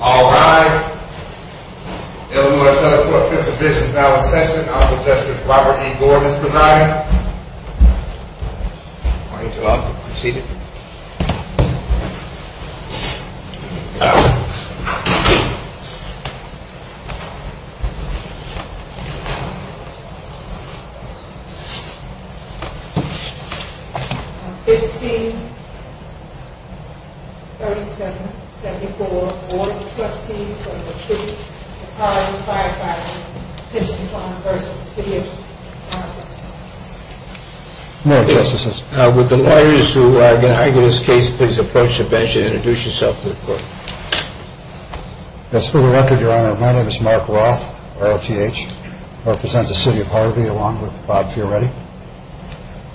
All rise. Illinois Senate Court, 5th Division, Ballot Session. I'll protest if Robert E. Gordon is presiding. Thank you, I'll proceed. 1537-74, Board of Trustees of the City of Harvey Firefighters' Pension Fund v. City of Harvey More justices. Would the lawyers who are going to argue this case please approach the bench and introduce yourself to the court. Yes, for the record, Your Honor, my name is Mark Roth, R-O-T-H. I represent the City of Harvey along with Bob Fioretti.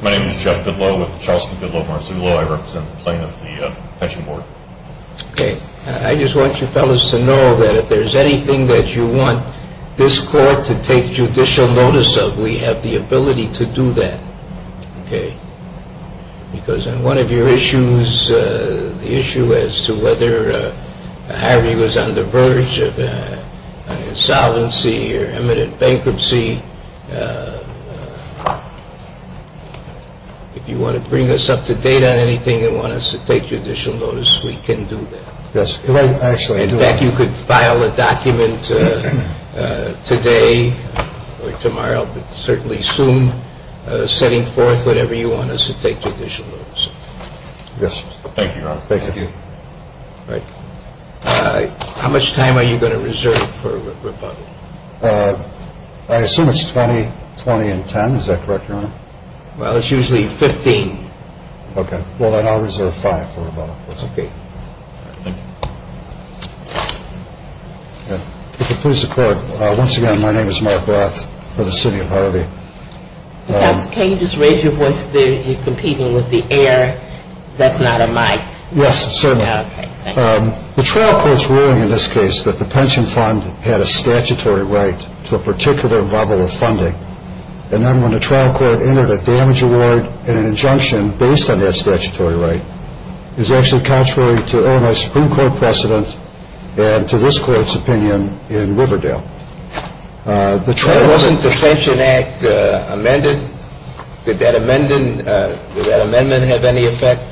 My name is Jeff Goodloe with the Charleston Goodloe-Marzullo. I represent the Plain of the Pension Board. I just want you fellas to know that if there's anything that you want this court to take judicial notice of, we have the ability to do that. Because on one of your issues, the issue as to whether Harvey was on the verge of an insolvency or imminent bankruptcy, if you want to bring us up to date on anything and want us to take judicial notice, we can do that. In fact, you could file a document today or tomorrow, but certainly soon, setting forth whatever you want us to take judicial notice of. Yes, thank you, Your Honor. How much time are you going to reserve for rebuttal? I assume it's 20, 20 and 10. Is that correct, Your Honor? Well, it's usually 15. Okay. Well, then I'll reserve five for rebuttal. Okay. Thank you. If it pleases the court, once again, my name is Mark Roth for the City of Harvey. Counsel, can you just raise your voice? You're competing with the air. That's not a mic. Yes, certainly. Okay, thank you. The trial court's ruling in this case that the pension fund had a statutory right to a particular level of funding, and then when the trial court entered a damage award and an injunction based on that statutory right, is actually contrary to Illinois Supreme Court precedent and to this court's opinion in Riverdale. Wasn't the Pension Act amended? Did that amendment have any effect?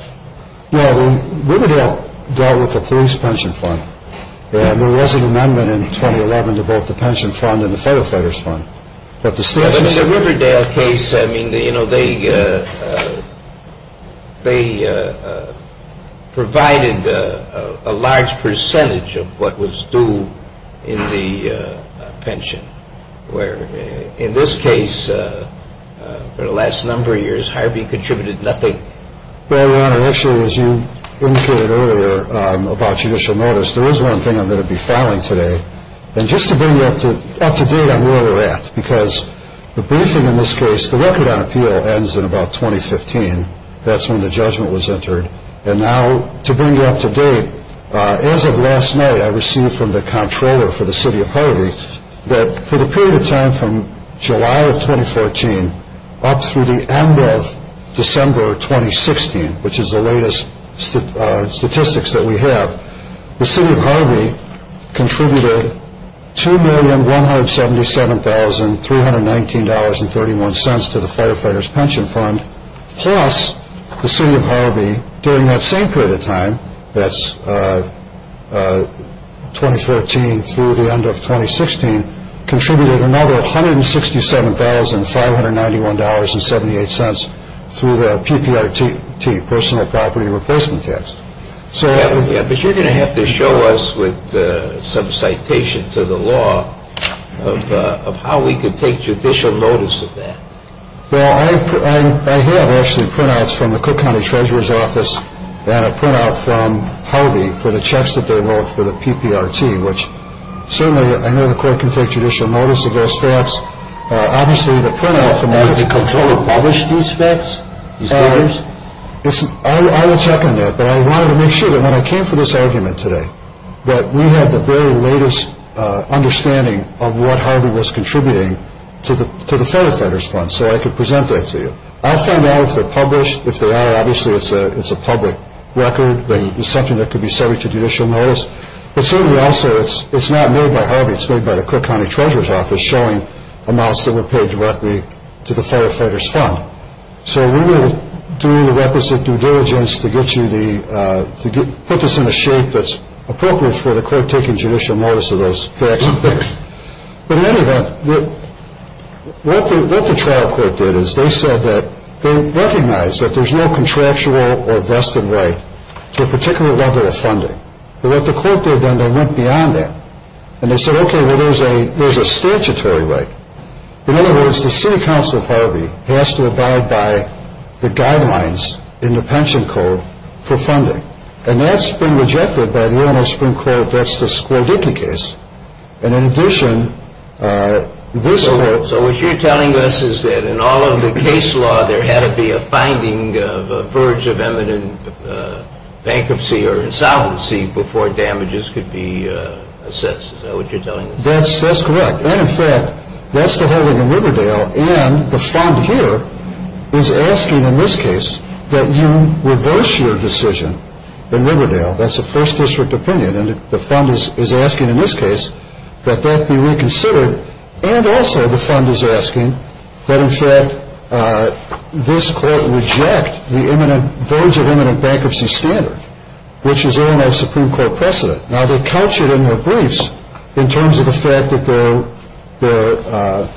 Well, Riverdale dealt with the police pension fund, and there was an amendment in 2011 to both the pension fund and the firefighters fund. But the Riverdale case, I mean, you know, they provided a large percentage of what was due in the pension, where in this case, for the last number of years, Harvey contributed nothing. Well, Your Honor, actually, as you indicated earlier about judicial notice, there is one thing I'm going to be filing today. And just to bring you up to date on where we're at, because the briefing in this case, the record on appeal ends in about 2015. That's when the judgment was entered. And now, to bring you up to date, as of last night, I received from the controller for the City of Harvey that for the period of time from July of 2014 up through the end of December 2016, which is the latest statistics that we have, the City of Harvey contributed $2,177,319.31 to the firefighters pension fund, plus the City of Harvey, during that same period of time, that's 2014 through the end of 2016, contributed another $167,591.78 through the PPRT, personal property replacement tax. But you're going to have to show us with some citation to the law of how we could take judicial notice of that. Well, I have actually printouts from the Cook County Treasurer's Office and a printout from Harvey for the checks that they wrote for the PPRT, which certainly I know the court can take judicial notice against facts. Obviously, the printout from that... Has the controller published these facts, these figures? I will check on that. But I wanted to make sure that when I came for this argument today that we had the very latest understanding of what Harvey was contributing to the firefighters fund, so I could present that to you. I'll find out if they're published. If they are, obviously it's a public record. It's something that could be subject to judicial notice. But certainly also, it's not made by Harvey, it's made by the Cook County Treasurer's Office showing amounts that were paid directly to the firefighters fund. So we will do the requisite due diligence to put this in a shape that's appropriate for the court taking judicial notice of those facts. But in any event, what the trial court did is they said that they recognize that there's no contractual or vested right to a particular level of funding. But what the court did then, they went beyond that. And they said, okay, well, there's a statutory right. In other words, the City Council of Harvey has to abide by the guidelines in the pension code for funding. And that's been rejected by the Illinois Supreme Court. That's the Scordicchi case. And in addition, this... So what you're telling us is that in all of the case law, there had to be a finding of a verge of eminent bankruptcy or insolvency before damages could be assessed. Is that what you're telling us? That's correct. And in fact, that's the holding in Riverdale. And the fund here is asking in this case that you reverse your decision in Riverdale. That's a first district opinion. And the fund is asking in this case that that be reconsidered. And also the fund is asking that, in fact, this court reject the verge of eminent bankruptcy standard, which is Illinois Supreme Court precedent. Now, they couch it in their briefs in terms of the fact that they're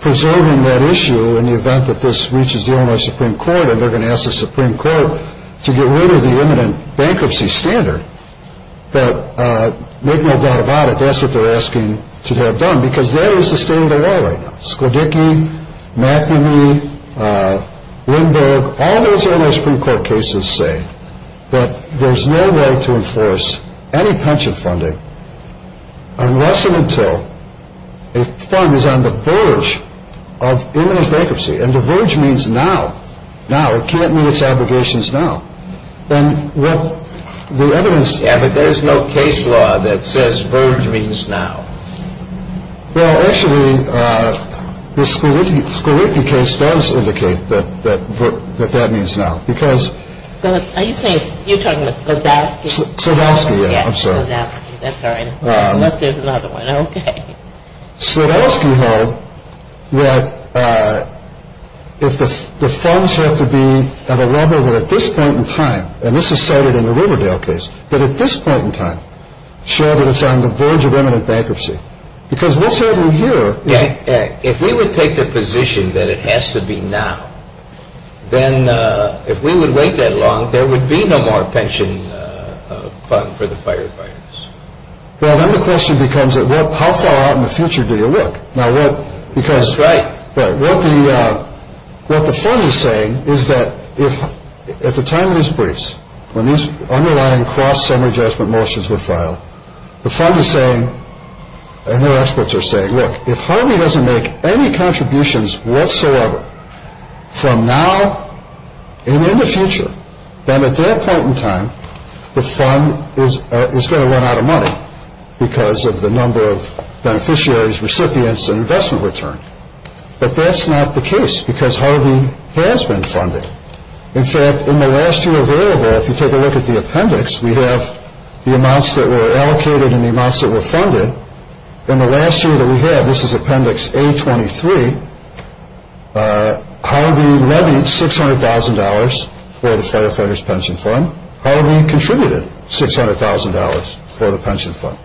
preserving that issue in the event that this reaches the Illinois Supreme Court and they're going to ask the Supreme Court to get rid of the eminent bankruptcy standard. But make no doubt about it, that's what they're asking to have done because that is the state of the law right now. Sklodicky, McNamee, Lindberg, all those Illinois Supreme Court cases say that there's no way to enforce any pension funding unless and until a fund is on the verge of eminent bankruptcy. And the verge means now. Now. It can't mean it's obligations now. And what the evidence... Yeah, but there's no case law that says verge means now. Well, actually, the Sklodicky case does indicate that that means now. Are you talking about Sklodowski? Sklodowski, yeah. I'm sorry. That's all right. Unless there's another one. Okay. Sklodowski held that if the funds have to be at a level that at this point in time, and this is cited in the Riverdale case, that at this point in time show that it's on the verge of eminent bankruptcy. Because what's happening here is... If we would take the position that it has to be now, then if we would wait that long, there would be no more pension fund for the firefighters. Well, then the question becomes, how far out in the future do you look? That's right. What the fund is saying is that if at the time of this briefs, when these underlying cross-summary judgment motions were filed, the fund is saying, and their experts are saying, look, if Harvey doesn't make any contributions whatsoever from now and in the future, then at that point in time, the fund is going to run out of money because of the number of beneficiaries, recipients, and investment return. But that's not the case because Harvey has been funded. In fact, in the last year available, if you take a look at the appendix, we have the amounts that were allocated and the amounts that were funded. In the last year that we have, this is appendix A23, Harvey levied $600,000 for the firefighters pension fund. Harvey contributed $600,000 for the pension fund.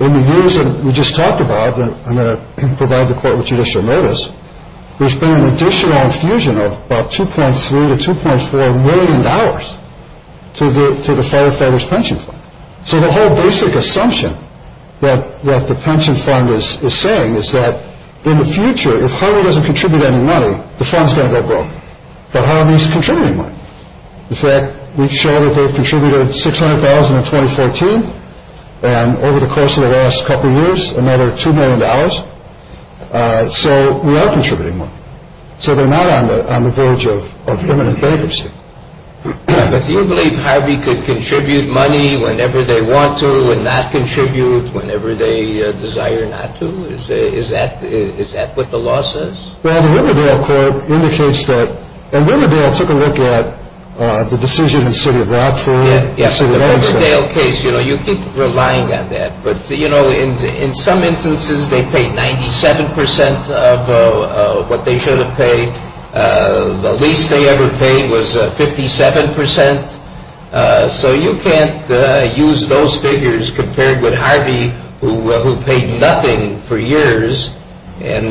In the years that we just talked about, I'm going to provide the court with judicial notice, there's been an additional infusion of about $2.3 to $2.4 million to the firefighters pension fund. So the whole basic assumption that the pension fund is saying is that in the future, if Harvey doesn't contribute any money, the fund's going to go broke. But Harvey's contributing money. In fact, we show that they've contributed $600,000 in 2014, and over the course of the last couple of years, they've contributed $1 million. So we are contributing money. So they're not on the verge of imminent bankruptcy. But do you believe Harvey could contribute money whenever they want to and not contribute whenever they desire not to? Is that what the law says? Well, the Riverdale court indicates that, and Riverdale took a look at the decision in the city of Rockford. The Riverdale case, you keep relying on that, but you know, in some instances, they paid 97% of what they should have paid. The least they ever paid was 57%. So you can't use those figures compared with Harvey, who paid nothing for years and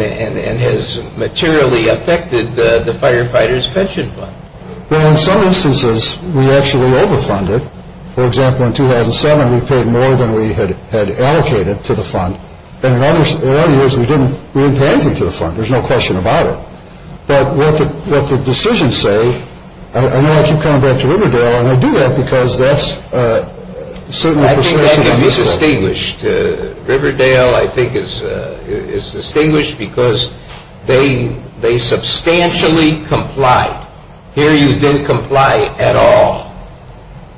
has materially affected the firefighters pension fund. Well, in some instances, we actually overfunded. For example, in 2007, we paid more than we had allocated to the fund. And in other years, we didn't pay anything to the fund. There's no question about it. But what the decisions say, I know I keep coming back to Riverdale, and I do that because that's certainly a persuasion. I think that can be distinguished. Riverdale, I think, is distinguished because they substantially complied. Here you didn't comply at all.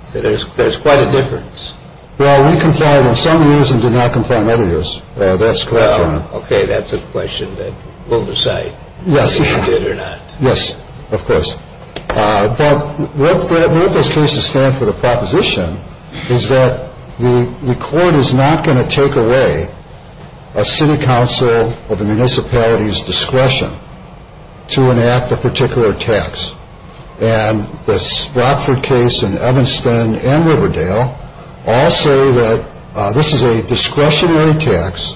So there's quite a difference. Well, we complied in some years and did not comply in other years. Okay, that's a question that we'll decide whether you did or not. Yes, of course. But what those cases stand for, the proposition, is that the court is not going to take away a city council of a municipality's discretion to enact a particular tax. And the Rockford case in Evanston and Riverdale all say that this is a discretionary tax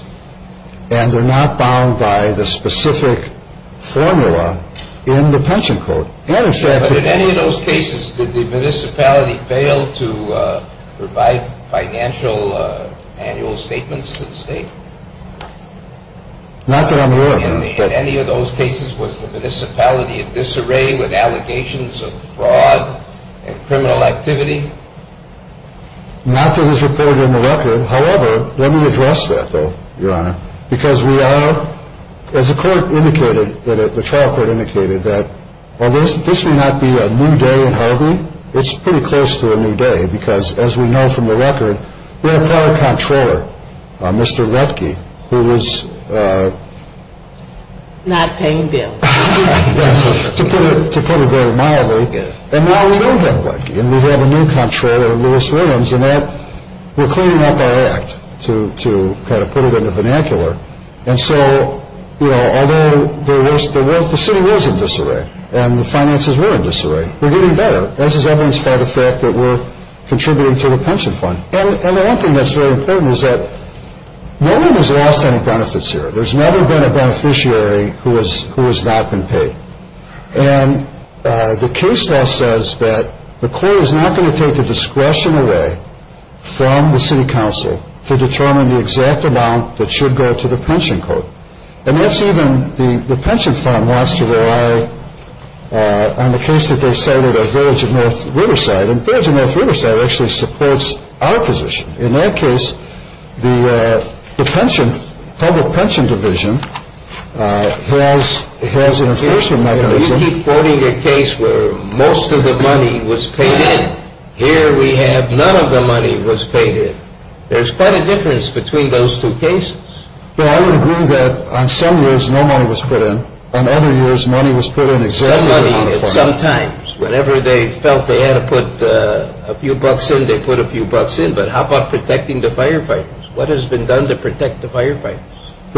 and they're not bound by the specific formula in the pension code. But in any of those cases, did the municipality fail to provide financial annual statements to the state? Not that I'm aware of. In any of those cases, was the municipality at disarray with allegations of fraud and criminal activity? Not that it's reported in the record. However, let me address that, though, Your Honor, because we are, as the court indicated, the trial court indicated, that while this may not be a new day in Harvey, it's pretty close to a new day because as we know from the record, we have a prior comptroller, Mr. Lutke, who was... Not paying bills. Yes, to put it very mildly. And now we don't have Lutke and we have a new comptroller, Lewis Williams, and we're cleaning up our act, to kind of put it in a vernacular. And so, you know, although the city was in disarray and the finances were in disarray, we're getting better, as is evidenced by the fact that we're contributing to the pension fund. And the one thing that's very important is that no one has lost any benefits here. There's never been a beneficiary who has not been paid. And the case law says that the court is not going to take the discretion away from the city council to determine the exact amount that should go to the pension code. And that's even... The pension fund wants to rely on the case that they cited of Village of North Riverside. And Village of North Riverside actually supports our position. In that case, the pension, public pension division, has an enforcement mechanism... You keep quoting a case where most of the money was paid in. Here we have none of the money was paid in. There's quite a difference between those two cases. Well, I would agree that on some years, no money was put in. On other years, money was put in exactly the amount of funds. Sometimes, whenever they felt they had to put a few bucks in, they put a few bucks in. But how about protecting the firefighters? We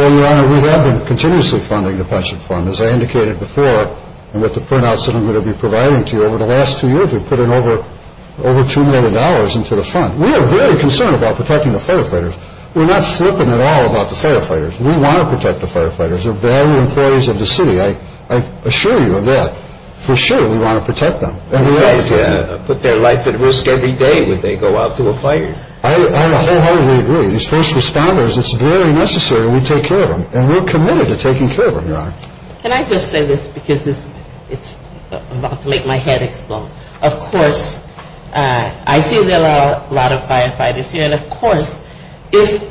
have been continuously funding the pension fund. As I indicated before, and with the printouts that I'm going to be providing to you, over the last two years, we've put in over $2 million into the fund. We are very concerned about protecting the firefighters. We're not flipping at all about the firefighters. We want to protect the firefighters. They're valuable employees of the city. I assure you of that. We're committed to taking care of them. Can I just say this? I'm about to make my head explode. Of course, I see there are a lot of firefighters here. And of course, if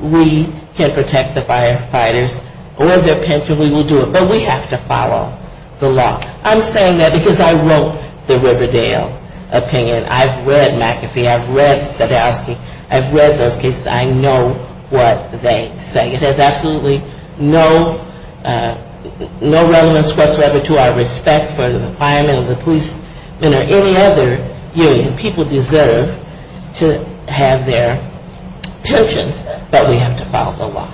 we can protect the firefighters or their pension, we will do it. But we have to follow the law. I'm saying that because I wrote the Riverdale opinion. I've read McAfee. I've read Stadowski. I've read those cases. I know what they say. It has absolutely no relevance whatsoever to our respect for the firemen or the policemen or any other union. People deserve to have their pensions. But we have to follow the law.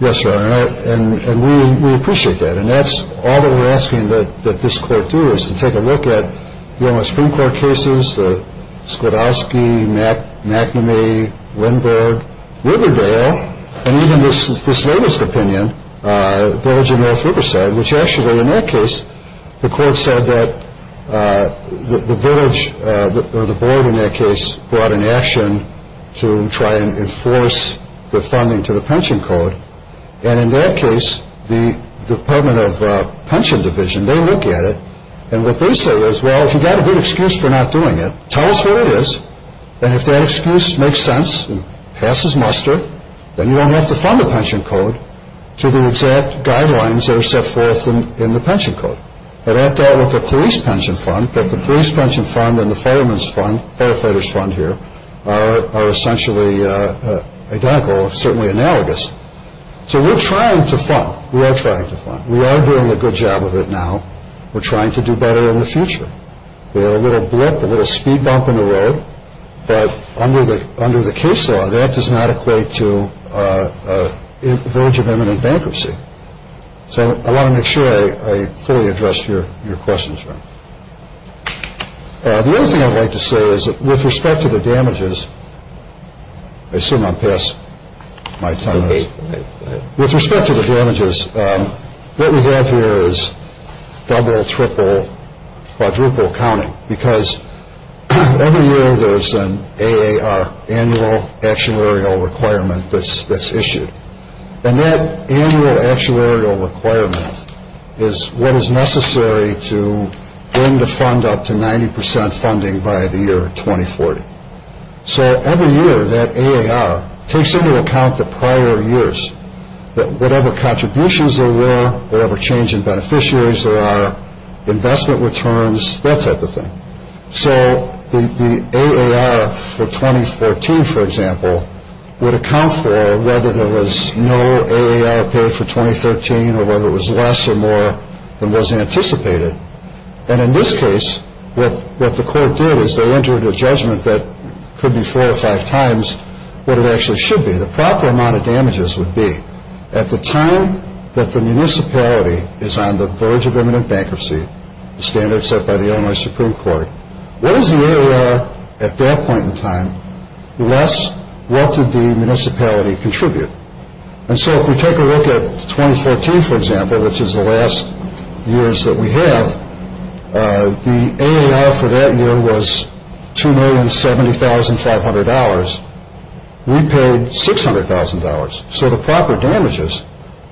Yes, Your Honor. And we appreciate that. And that's all that we're asking that this court do, is to take a look at the Supreme Court cases, the Stadowski, McNamee, Winberg, Riverdale, and even this latest opinion, Village of North Riverside, which actually, in that case, the court said that the village, or the board in that case, brought an action to try and enforce the funding to the pension code. And in that case, the Department of Pension Division, they look at it, tell us what it is, and if that excuse makes sense and passes muster, then you don't have to fund the pension code to the exact guidelines that are set forth in the pension code. And that dealt with the police pension fund, but the police pension fund and the firemen's fund, firefighters' fund here, are essentially identical, certainly analogous. So we're trying to fund. We are trying to fund. We are doing a good job of it now. It's a neat bump in the road, but under the case law, that does not equate to a village of imminent bankruptcy. So I want to make sure I fully addressed your questions. The other thing I'd like to say is that with respect to the damages, I assume I'm past my time. With respect to the damages, what we have here is double, triple, quadruple counting, because every year there is an AAR, annual actuarial requirement, that's issued. And that annual actuarial requirement is what is necessary to fund up to 90% funding by the year 2040. So every year, that AAR takes into account the prior years, that whatever contributions there were, whatever change in beneficiaries there are, investment returns, and so on. So the AAR for 2014, for example, would account for whether there was no AAR paid for 2013 or whether it was less or more than was anticipated. And in this case, what the court did is they entered a judgment that could be four or five times what it actually should be. The proper amount of damages would be at the time that the municipality paid for it. What is the AAR at that point in time, less what did the municipality contribute? And so if we take a look at 2014, for example, which is the last years that we have, the AAR for that year was $2,070,500. We paid $600,000. So the proper damages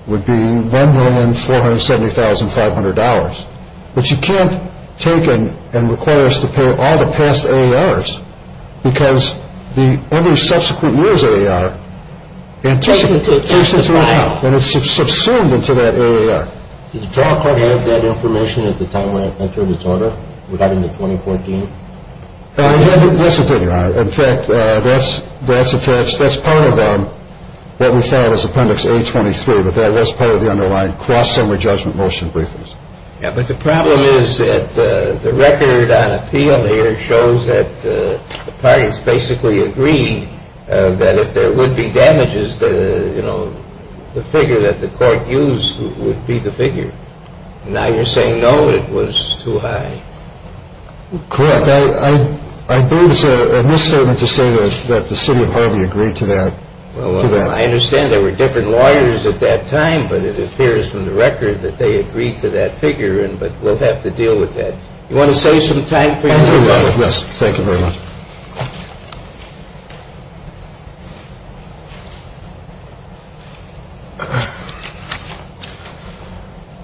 would be $1,470,500. But you can't take and require us to pay all the past AARs because every subsequent year's AAR takes into account and it's subsumed into that AAR. Did the trial court have that information at the time when it entered its order regarding the 2014? Yes, it did, Your Honor. In fact, that's part of what we found as Appendix A23, but that was part of the underlying cross-summary judgment motion briefings. Yeah, but the problem is that the record on appeal here shows that the parties basically agreed that if there would be damages, the figure that the court used would be the figure. Now you're saying, no, it was too high. Correct. I believe it's a misstatement to say that the City of Harvey agreed to that. Well, I understand there were different lawyers at that time, but I'm not sure that that figure, but we'll have to deal with that. You want to save some time for your brother? Yes, thank you very much.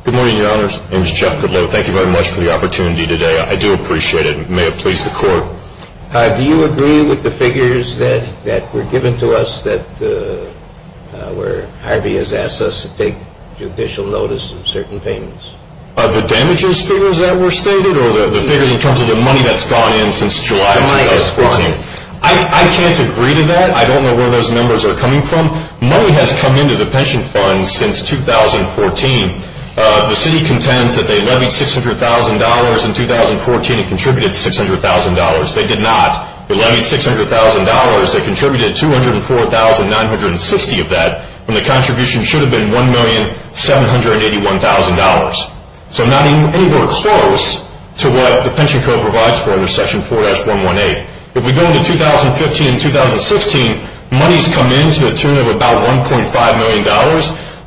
Good morning, Your Honors. My name is Jeff Goodloe. Thank you very much for the opportunity today. I do appreciate it. May it please the court. Do you agree with the figures that were given to us the damages figures that were stated or the figures in terms of the money that's gone in since July 2014? I can't agree to that. I don't know where those numbers are coming from. Money has come into the pension funds since 2014. The City contends that they levied $600,000 in 2014 and contributed $600,000. They did not. They levied $600,000. They contributed $204,960 of that when the contribution should have been $1,781,000. So not anywhere close to what the pension code provides for under Section 4-118. If we go into 2015 and 2016, money's come in to the tune of about $1.5 million.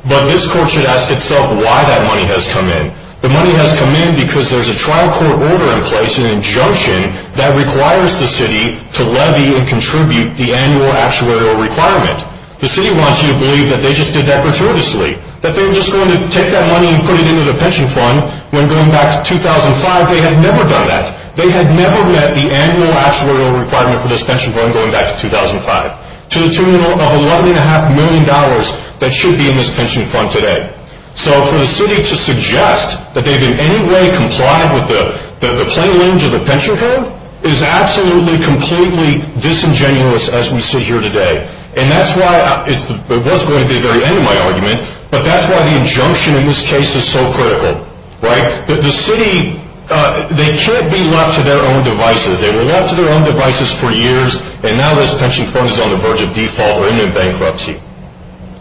But this court should ask itself why that money has come in. The money has come in because there's a trial court order in place, an injunction that requires the City to levy and contribute the annual actuarial requirement. The City wants you to believe that they just did that gratuitously. When going back to 2005, they had never done that. They had never met the annual actuarial requirement for this pension fund going back to 2005. To the tune of $1.5 million that should be in this pension fund today. So for the City to suggest that they've in any way complied with the plain language of the pension code is absolutely, completely disingenuous as we sit here today. And that's why it was going to be the very end of my argument, right? The City, they can't be left to their own devices. They were left to their own devices for years and now this pension fund is on the verge of default or even bankruptcy.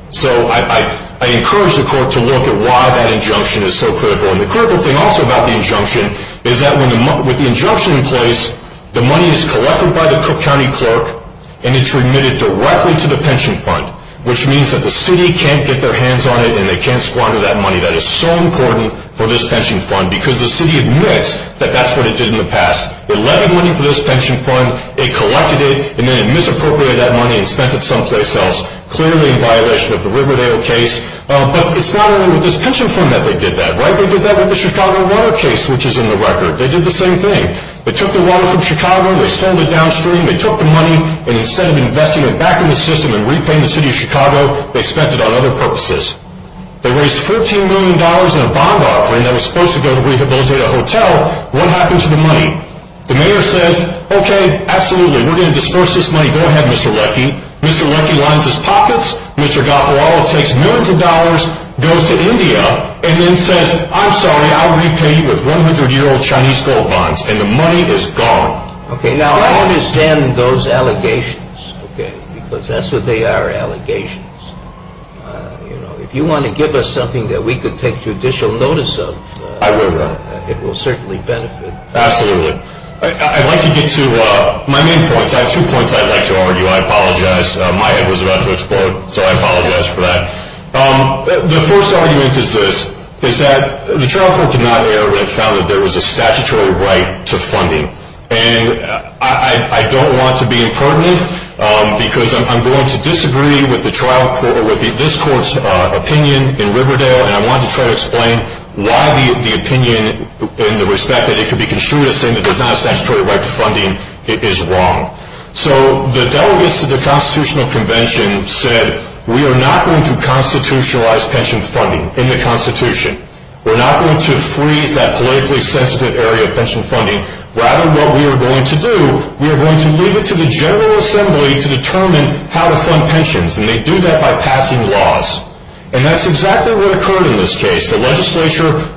So I encourage the court to look at why that injunction is so critical. And the critical thing also about the injunction is that with the injunction in place, the money is collected by the county clerk and it's remitted directly to the pension fund because the City admits that that's what it did in the past. It levied money for this pension fund, it collected it, and then it misappropriated that money and spent it someplace else, clearly in violation of the Riverdale case. But it's not only with this pension fund that they did that, right? They did that with the Chicago water case which is in the record. They did the same thing. They took the water from Chicago, they sold it downstream, and then they disposed to go to rehabilitate a hotel. What happened to the money? The mayor says, okay, absolutely, we're going to dispose this money, go ahead Mr. Lecky. Mr. Lecky lines his pockets, Mr. Gafarola takes millions of dollars, goes to India, and then says, I'm sorry, I'll repay you with 100-year-old Chinese gold bonds. And the money is gone. It will certainly benefit. Absolutely. I'd like to get to my main points. I have two points I'd like to argue. I apologize. My head was about to explode, so I apologize for that. The first argument is this, is that the trial court did not err when it found that there was a statutory right to funding. And I don't want to be impertinent because I'm going to disagree with this court's opinion in Riverdale, and I want to try to explain the opinion in the respect that it could be construed as saying that there's not a statutory right to funding is wrong. So the delegates to the Constitutional Convention said, we are not going to constitutionalize pension funding in the Constitution. We're not going to freeze that politically sensitive area of pension funding. Rather what we are going to do, we are going to leave it to the General Assembly to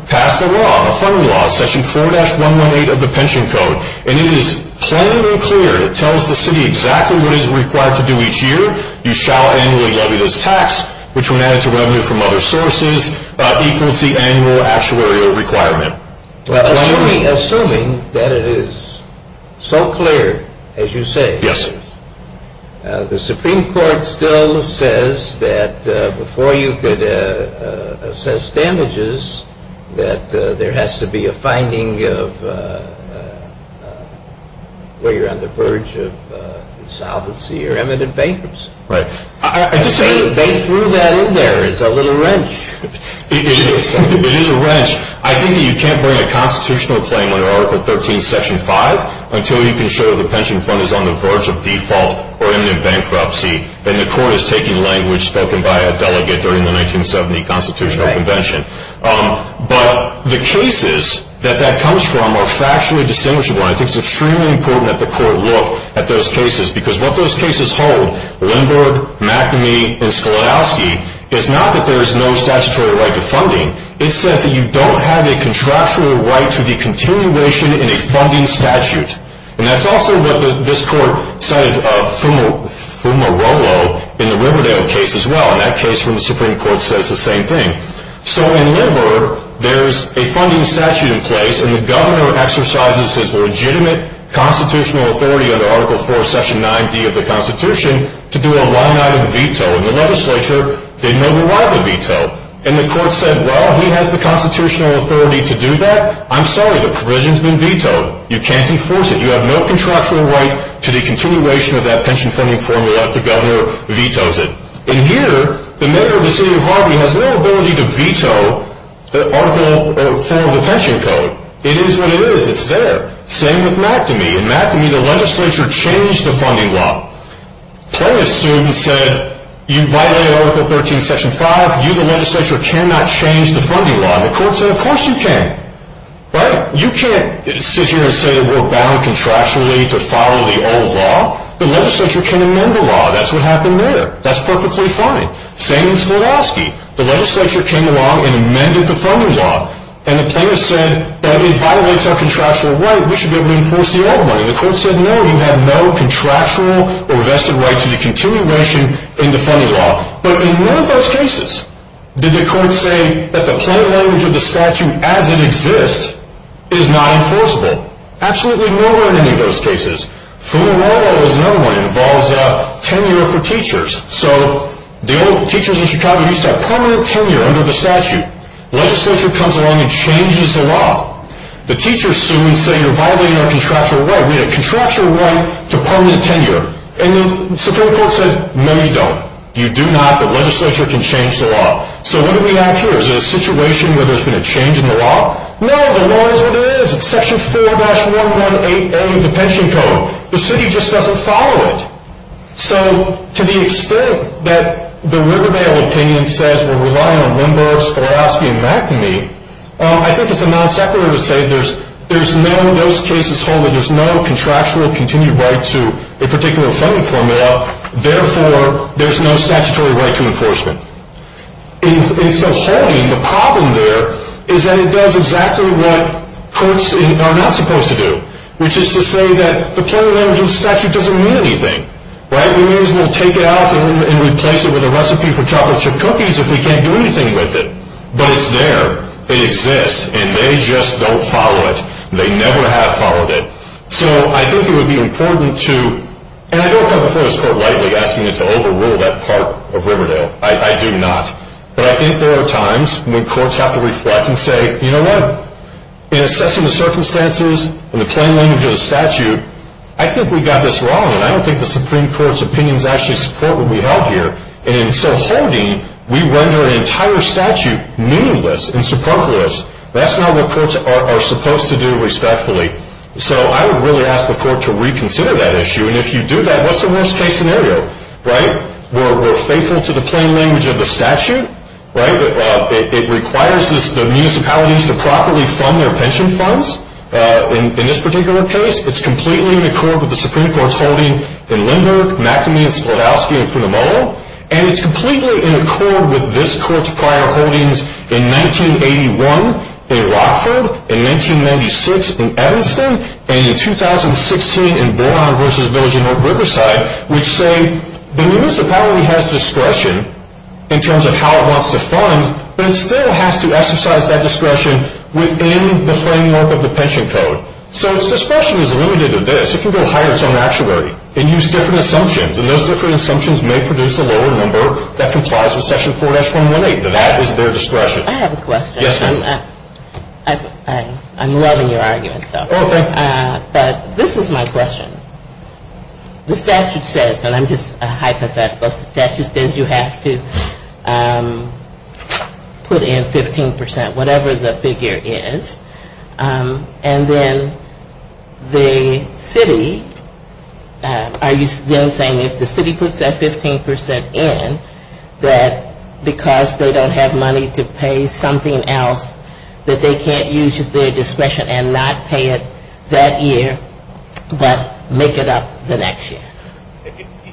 pass a law, a funding law, section 4-118 of the pension code. And it is plain and clear, it tells the city exactly what it is required to do each year. You shall annually levy this tax, which when added to revenue from other sources, equals the annual actuarial requirement. Assuming that it is so clear as you say, the Supreme Court still says that before you could assess damages that there has to be a finding of where you're on the verge of insolvency or imminent bankruptcy. Right. They threw that in there as a little wrench. It is a wrench. I think that you can't bring a constitutional claim under Article 13, Section 5 until you can show the pension fund is on the verge of default or imminent bankruptcy and the court is taking language from that. But the cases that that comes from are factually distinguishable. I think it is extremely important that the court look at those cases because what those cases hold, Lindbergh, McNamee, and Sklodowsky, is not that there is no statutory right to funding. It says that you don't have a contractual right to the continuation in a funding statute. However, there is a funding statute in place and the governor exercises his legitimate constitutional authority under Article 4, Section 9b of the Constitution to do a line-item veto. And the legislature did not allow the veto. And the court said, well, he has the constitutional authority to do that. I'm sorry, the provision has been vetoed. You can't enforce it. You have no contractual right under Article 4 of the Pension Code. It is what it is. It's there. Same with McNamee. In McNamee, the legislature changed the funding law. Plano soon said, you violated Article 13, Section 5. You, the legislature, cannot change the funding law. And the court said, of course you can. Right? You can't sit here and say that we're bound contractually to follow the old law. The legislature can amend the law. That's what happened there. That's perfectly fine. Same in Sklodowsky. The legislature came along and amended the funding law. And Plano said, it violates our contractual right. We should be able to enforce the old one. And the court said, no, you have no contractual or vested right to the continuation in the funding law. But in none of those cases did the court say that the plain language of the statute as it exists is not enforceable. Absolutely nowhere in any of those cases. Funding law law is another one. It involves tenure for teachers. So, teachers in Chicago used to have permanent tenure under the statute. Legislature comes along and changes the law. The teachers sue and say, you're violating our contractual right. We had a contractual right to permanent tenure. And the Supreme Court said, no, you don't. You do not, but legislature can change the law. So, what do we have here? Is it a situation where there's been a change in the law? No, the law is what it is. It's section 4-118A of the pension code. The city just doesn't follow it. So, to the extent that the Riverdale opinion says we're relying on Lindbergh, Swarovski, and McNamee, I think it's a non-separate to say there's no, those cases hold that there's no contractual continued right to a particular funding formula. Therefore, there's no statutory right to enforcement. And so, holding, the problem there is that it does exactly what courts are not supposed to do. Which is to say that the permanent energy statute doesn't mean anything. Right? It means we'll take it out and replace it with a recipe for anything with it. But it's there. It exists. And they just don't follow it. They never have followed it. So, I think it would be important to, and I don't come before this court lightly asking it to overrule that part of Riverdale. I do not. But I think there are times when courts have to reflect and say, you know what? In assessing the circumstances and the plain language of the statute, I think we got this wrong. And I don't think the Supreme Court's right to render an entire statute meaningless and superfluous. That's not what courts are supposed to do respectfully. So, I would really ask the court to reconsider that issue. And if you do that, what's the worst case scenario? Right? We're faithful to the plain language of the statute. Right? It requires the municipalities to properly fund their pension funds. In this particular case, it's completely in accord with the Supreme Court's prior holdings in McAmey, Sklodowsky, and Funamola. And it's completely in accord with this court's prior holdings in 1981 in Rockford, in 1996 in Evanston, and in 2016 in Boron versus Village of North Riverside, which say the municipality has discretion in terms of how it wants to fund, but it still has to exercise that discretion within the framework of the statutory. It uses different assumptions and those different assumptions may produce a lower number that complies with section 4-118. That is their discretion. I have a question. Yes, ma'am. I'm loving your argument, sir. Oh, thank you. But this is my question. The statute says, and I'm just a hypothetical, the statute says you have to put in 15 percent, whatever the figure is, and then the city, are you then saying if the city puts that 15 percent in, that because they don't have money to pay something else that they can't use their discretion and not pay it that year but make it up the next year?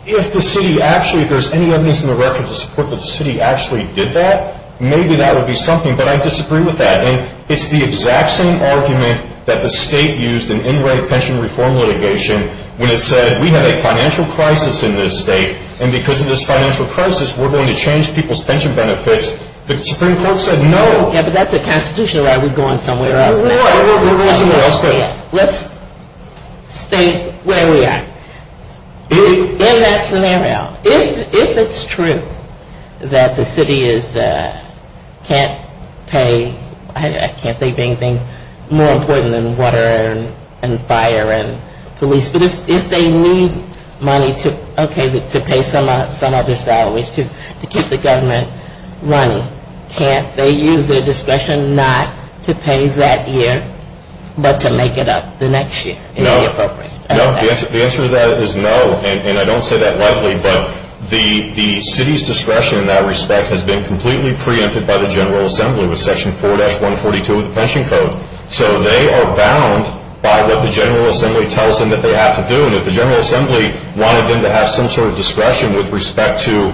If the city actually, if there's any evidence in the record to support that the city actually did that, maybe that would be something. But I disagree with that. And it's the exact same argument that the state used in in-rate pension reform litigation when it said we have a financial crisis in this state and because of this financial crisis we're going to change people's pension benefits. The Supreme Court said no. Yeah, but that's a different issue question. I mean, if they can't pay I can't think of anything more important than water and fire and police, but if they need money to, okay, to pay some other salaries, to keep the government running, can't they use their discretion not to pay that year but to make it the next year? No. The answer to that is no, and I don't say that lightly, but the city's discretion in that respect has been completely preempted by the General Assembly with Section 4-142 of the Pension Code. So they are bound by what the General Assembly tells them to do, and if the General Assembly wanted them to have some sort of discretion with respect to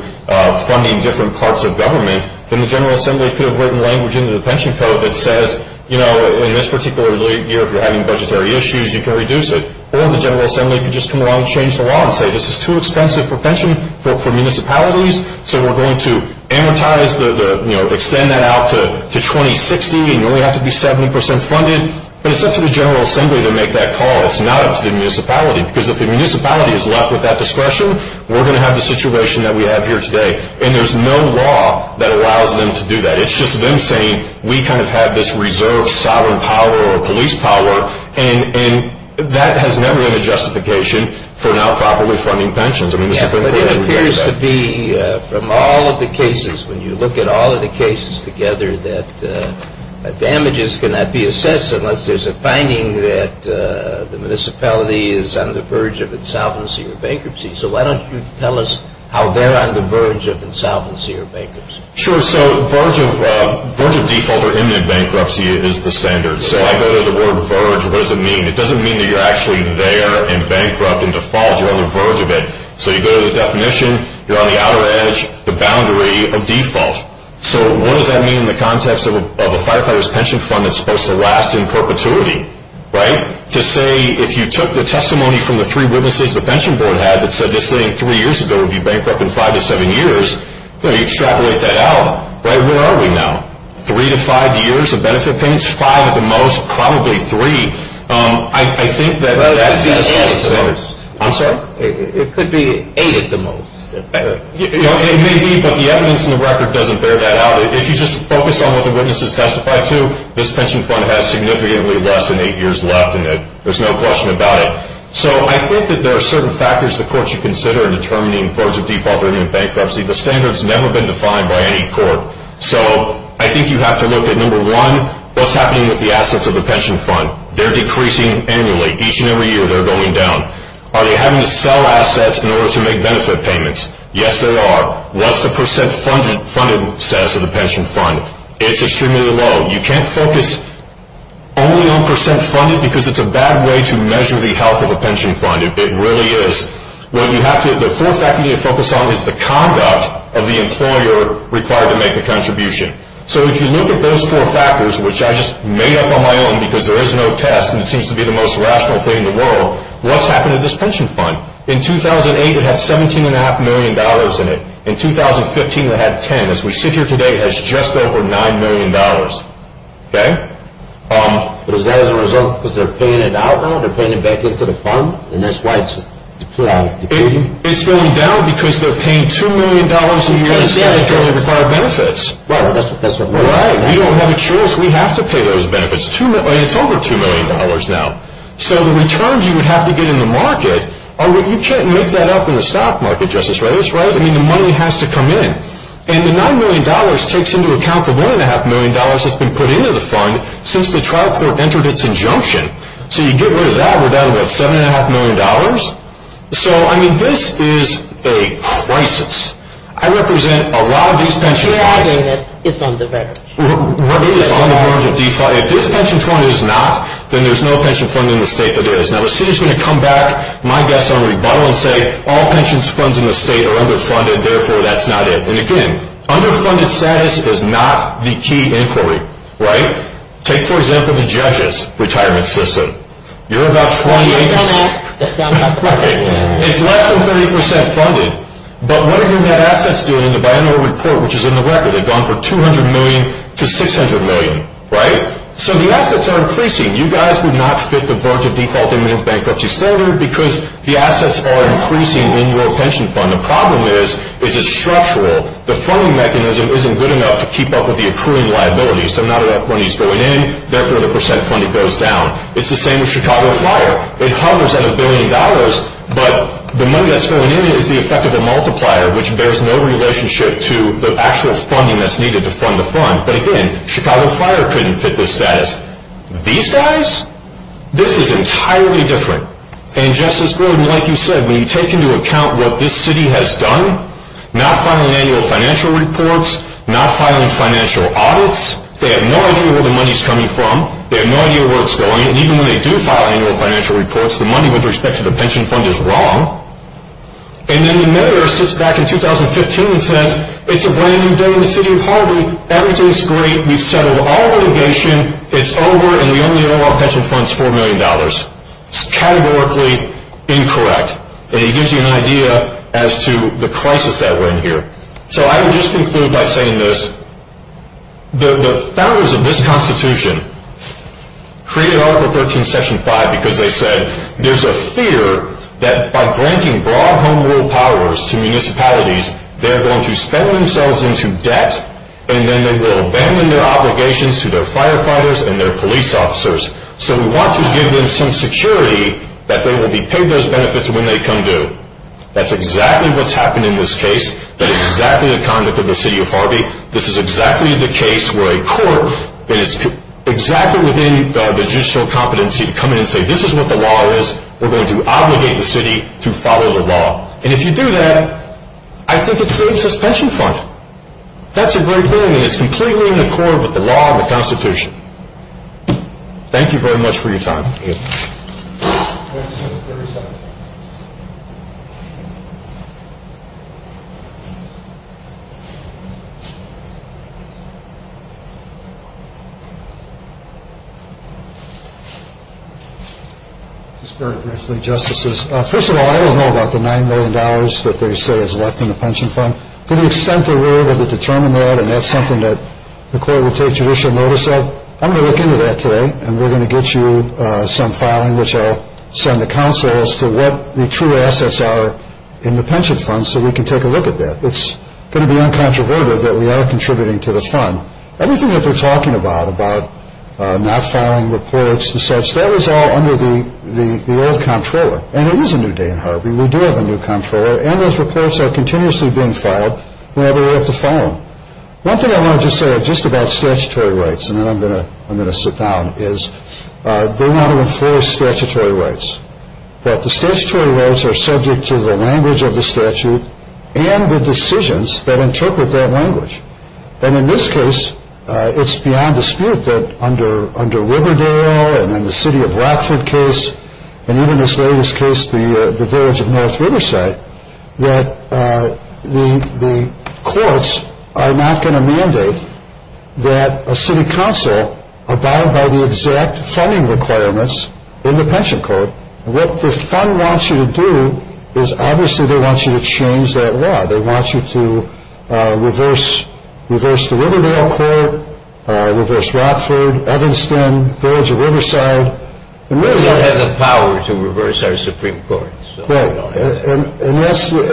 funding different parts of government, then the General Assembly could have written language into the Pension Code that says, you know, in this particular year, if you're having budgetary issues, you can reduce it. Or the General Assembly could just come around and change the law and say, this is too expensive for municipalities, so we're going to amortize, extend that out to 2060, and you only have to be 70 percent funded, but it's up to the General Assembly to make that call. It's not up to the General make that call. And that has never been a justification for not properly funding pensions. I mean, the Supreme Court has rejected that. It appears to be, from all of the cases, when you look at all of the cases together, that damages cannot be assessed unless there's a finding that the municipality is on the verge of insolvency or bankruptcy. So why don't you tell us how they're on the verge of insolvency or bankruptcy? Sure. So verge of default or imminent bankruptcy is the standard. So I go to the word verge. What does it mean? It doesn't mean that you're actually there and bankrupt and default. You're on the verge of it. So you go to the definition, you're on the outer edge, the boundary of default. So what does that mean in the context of a firefighter's pension fund that's supposed to last in perpetuity? To say that you're on the verge of default or imminent bankruptcy is the standard. So I think that the evidence in the record doesn't bear that out. If you just focus on what the witnesses testified to, this is simple case, but it's extremely low. You can't focus only on percent funded because it's a bad way to measure the health of a pension fund. It really is. What you have to focus on is the conduct of the fund. It's the most rational thing in the world. What's happened to this pension fund? In 2008 it had $17.5 million in it. In 2015 it had $10 million. As we sit here today it has just over $9 million. Is that a result because they are paying it out now? They are paying it back into the fund? It's going down are paying $2 million a year instead. We have to pay those benefits. It's over $2 million now. The returns you would have if had a pension fund would have been $7.5 million. This is a crisis. I represent a lot of these pension funds. If this pension fund is not there is no pension fund in the state. All pensions funds in the state are underfunded. Underfunded status is not the key inquiry. Take the judges retirement system. It's less than 30% funded. But what are the assets doing? They have gone from $200 a $100 a year. The problem is it's structural. The funding mechanism is not good enough to keep up with the accruing liabilities. It's the same as Chicago Fire. It hovers at a billion dollars. But the money that's going in is the effective multiplier. Chicago Fire couldn't fit this status. These guys? This is entirely different. When you take into account what this city has done, not filing the city to follow the law. If you do that, I think it saves suspension funding. That's a great thing. It's in accord with the constitution. Thank you for your time. 1 14 15 16 17 18 19 20 21 22 23 24 25 26 27 28 29 30 31 32 33 34 35 36 37 38 39 40 41 42 43 44 45 46 47 48 49 50 51 52 53 54 55 56 57 58 59 60 61 62 63 64 65 67 68 69 70 71 72 73 74 75 76 77 78 79 80 81 82 83 84 85 86 87 88 89 90 91 92 93 97 100 106 107 108 109 110 111 112 113 114 115 116 117 118 119 122 207 208 209 1010 1011 1012 1013 1014 1015 1016 1017 1018 1019 1020 1021 1022 1023 1027 1028 1036 1037 1038 1039 1040 1041 1042 1043 1044 1045 1046 1047 1048 1049 1053 1053 1054 1055 1055 106 1066 1077 1078 1074 1075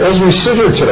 1076 1075 1077 1078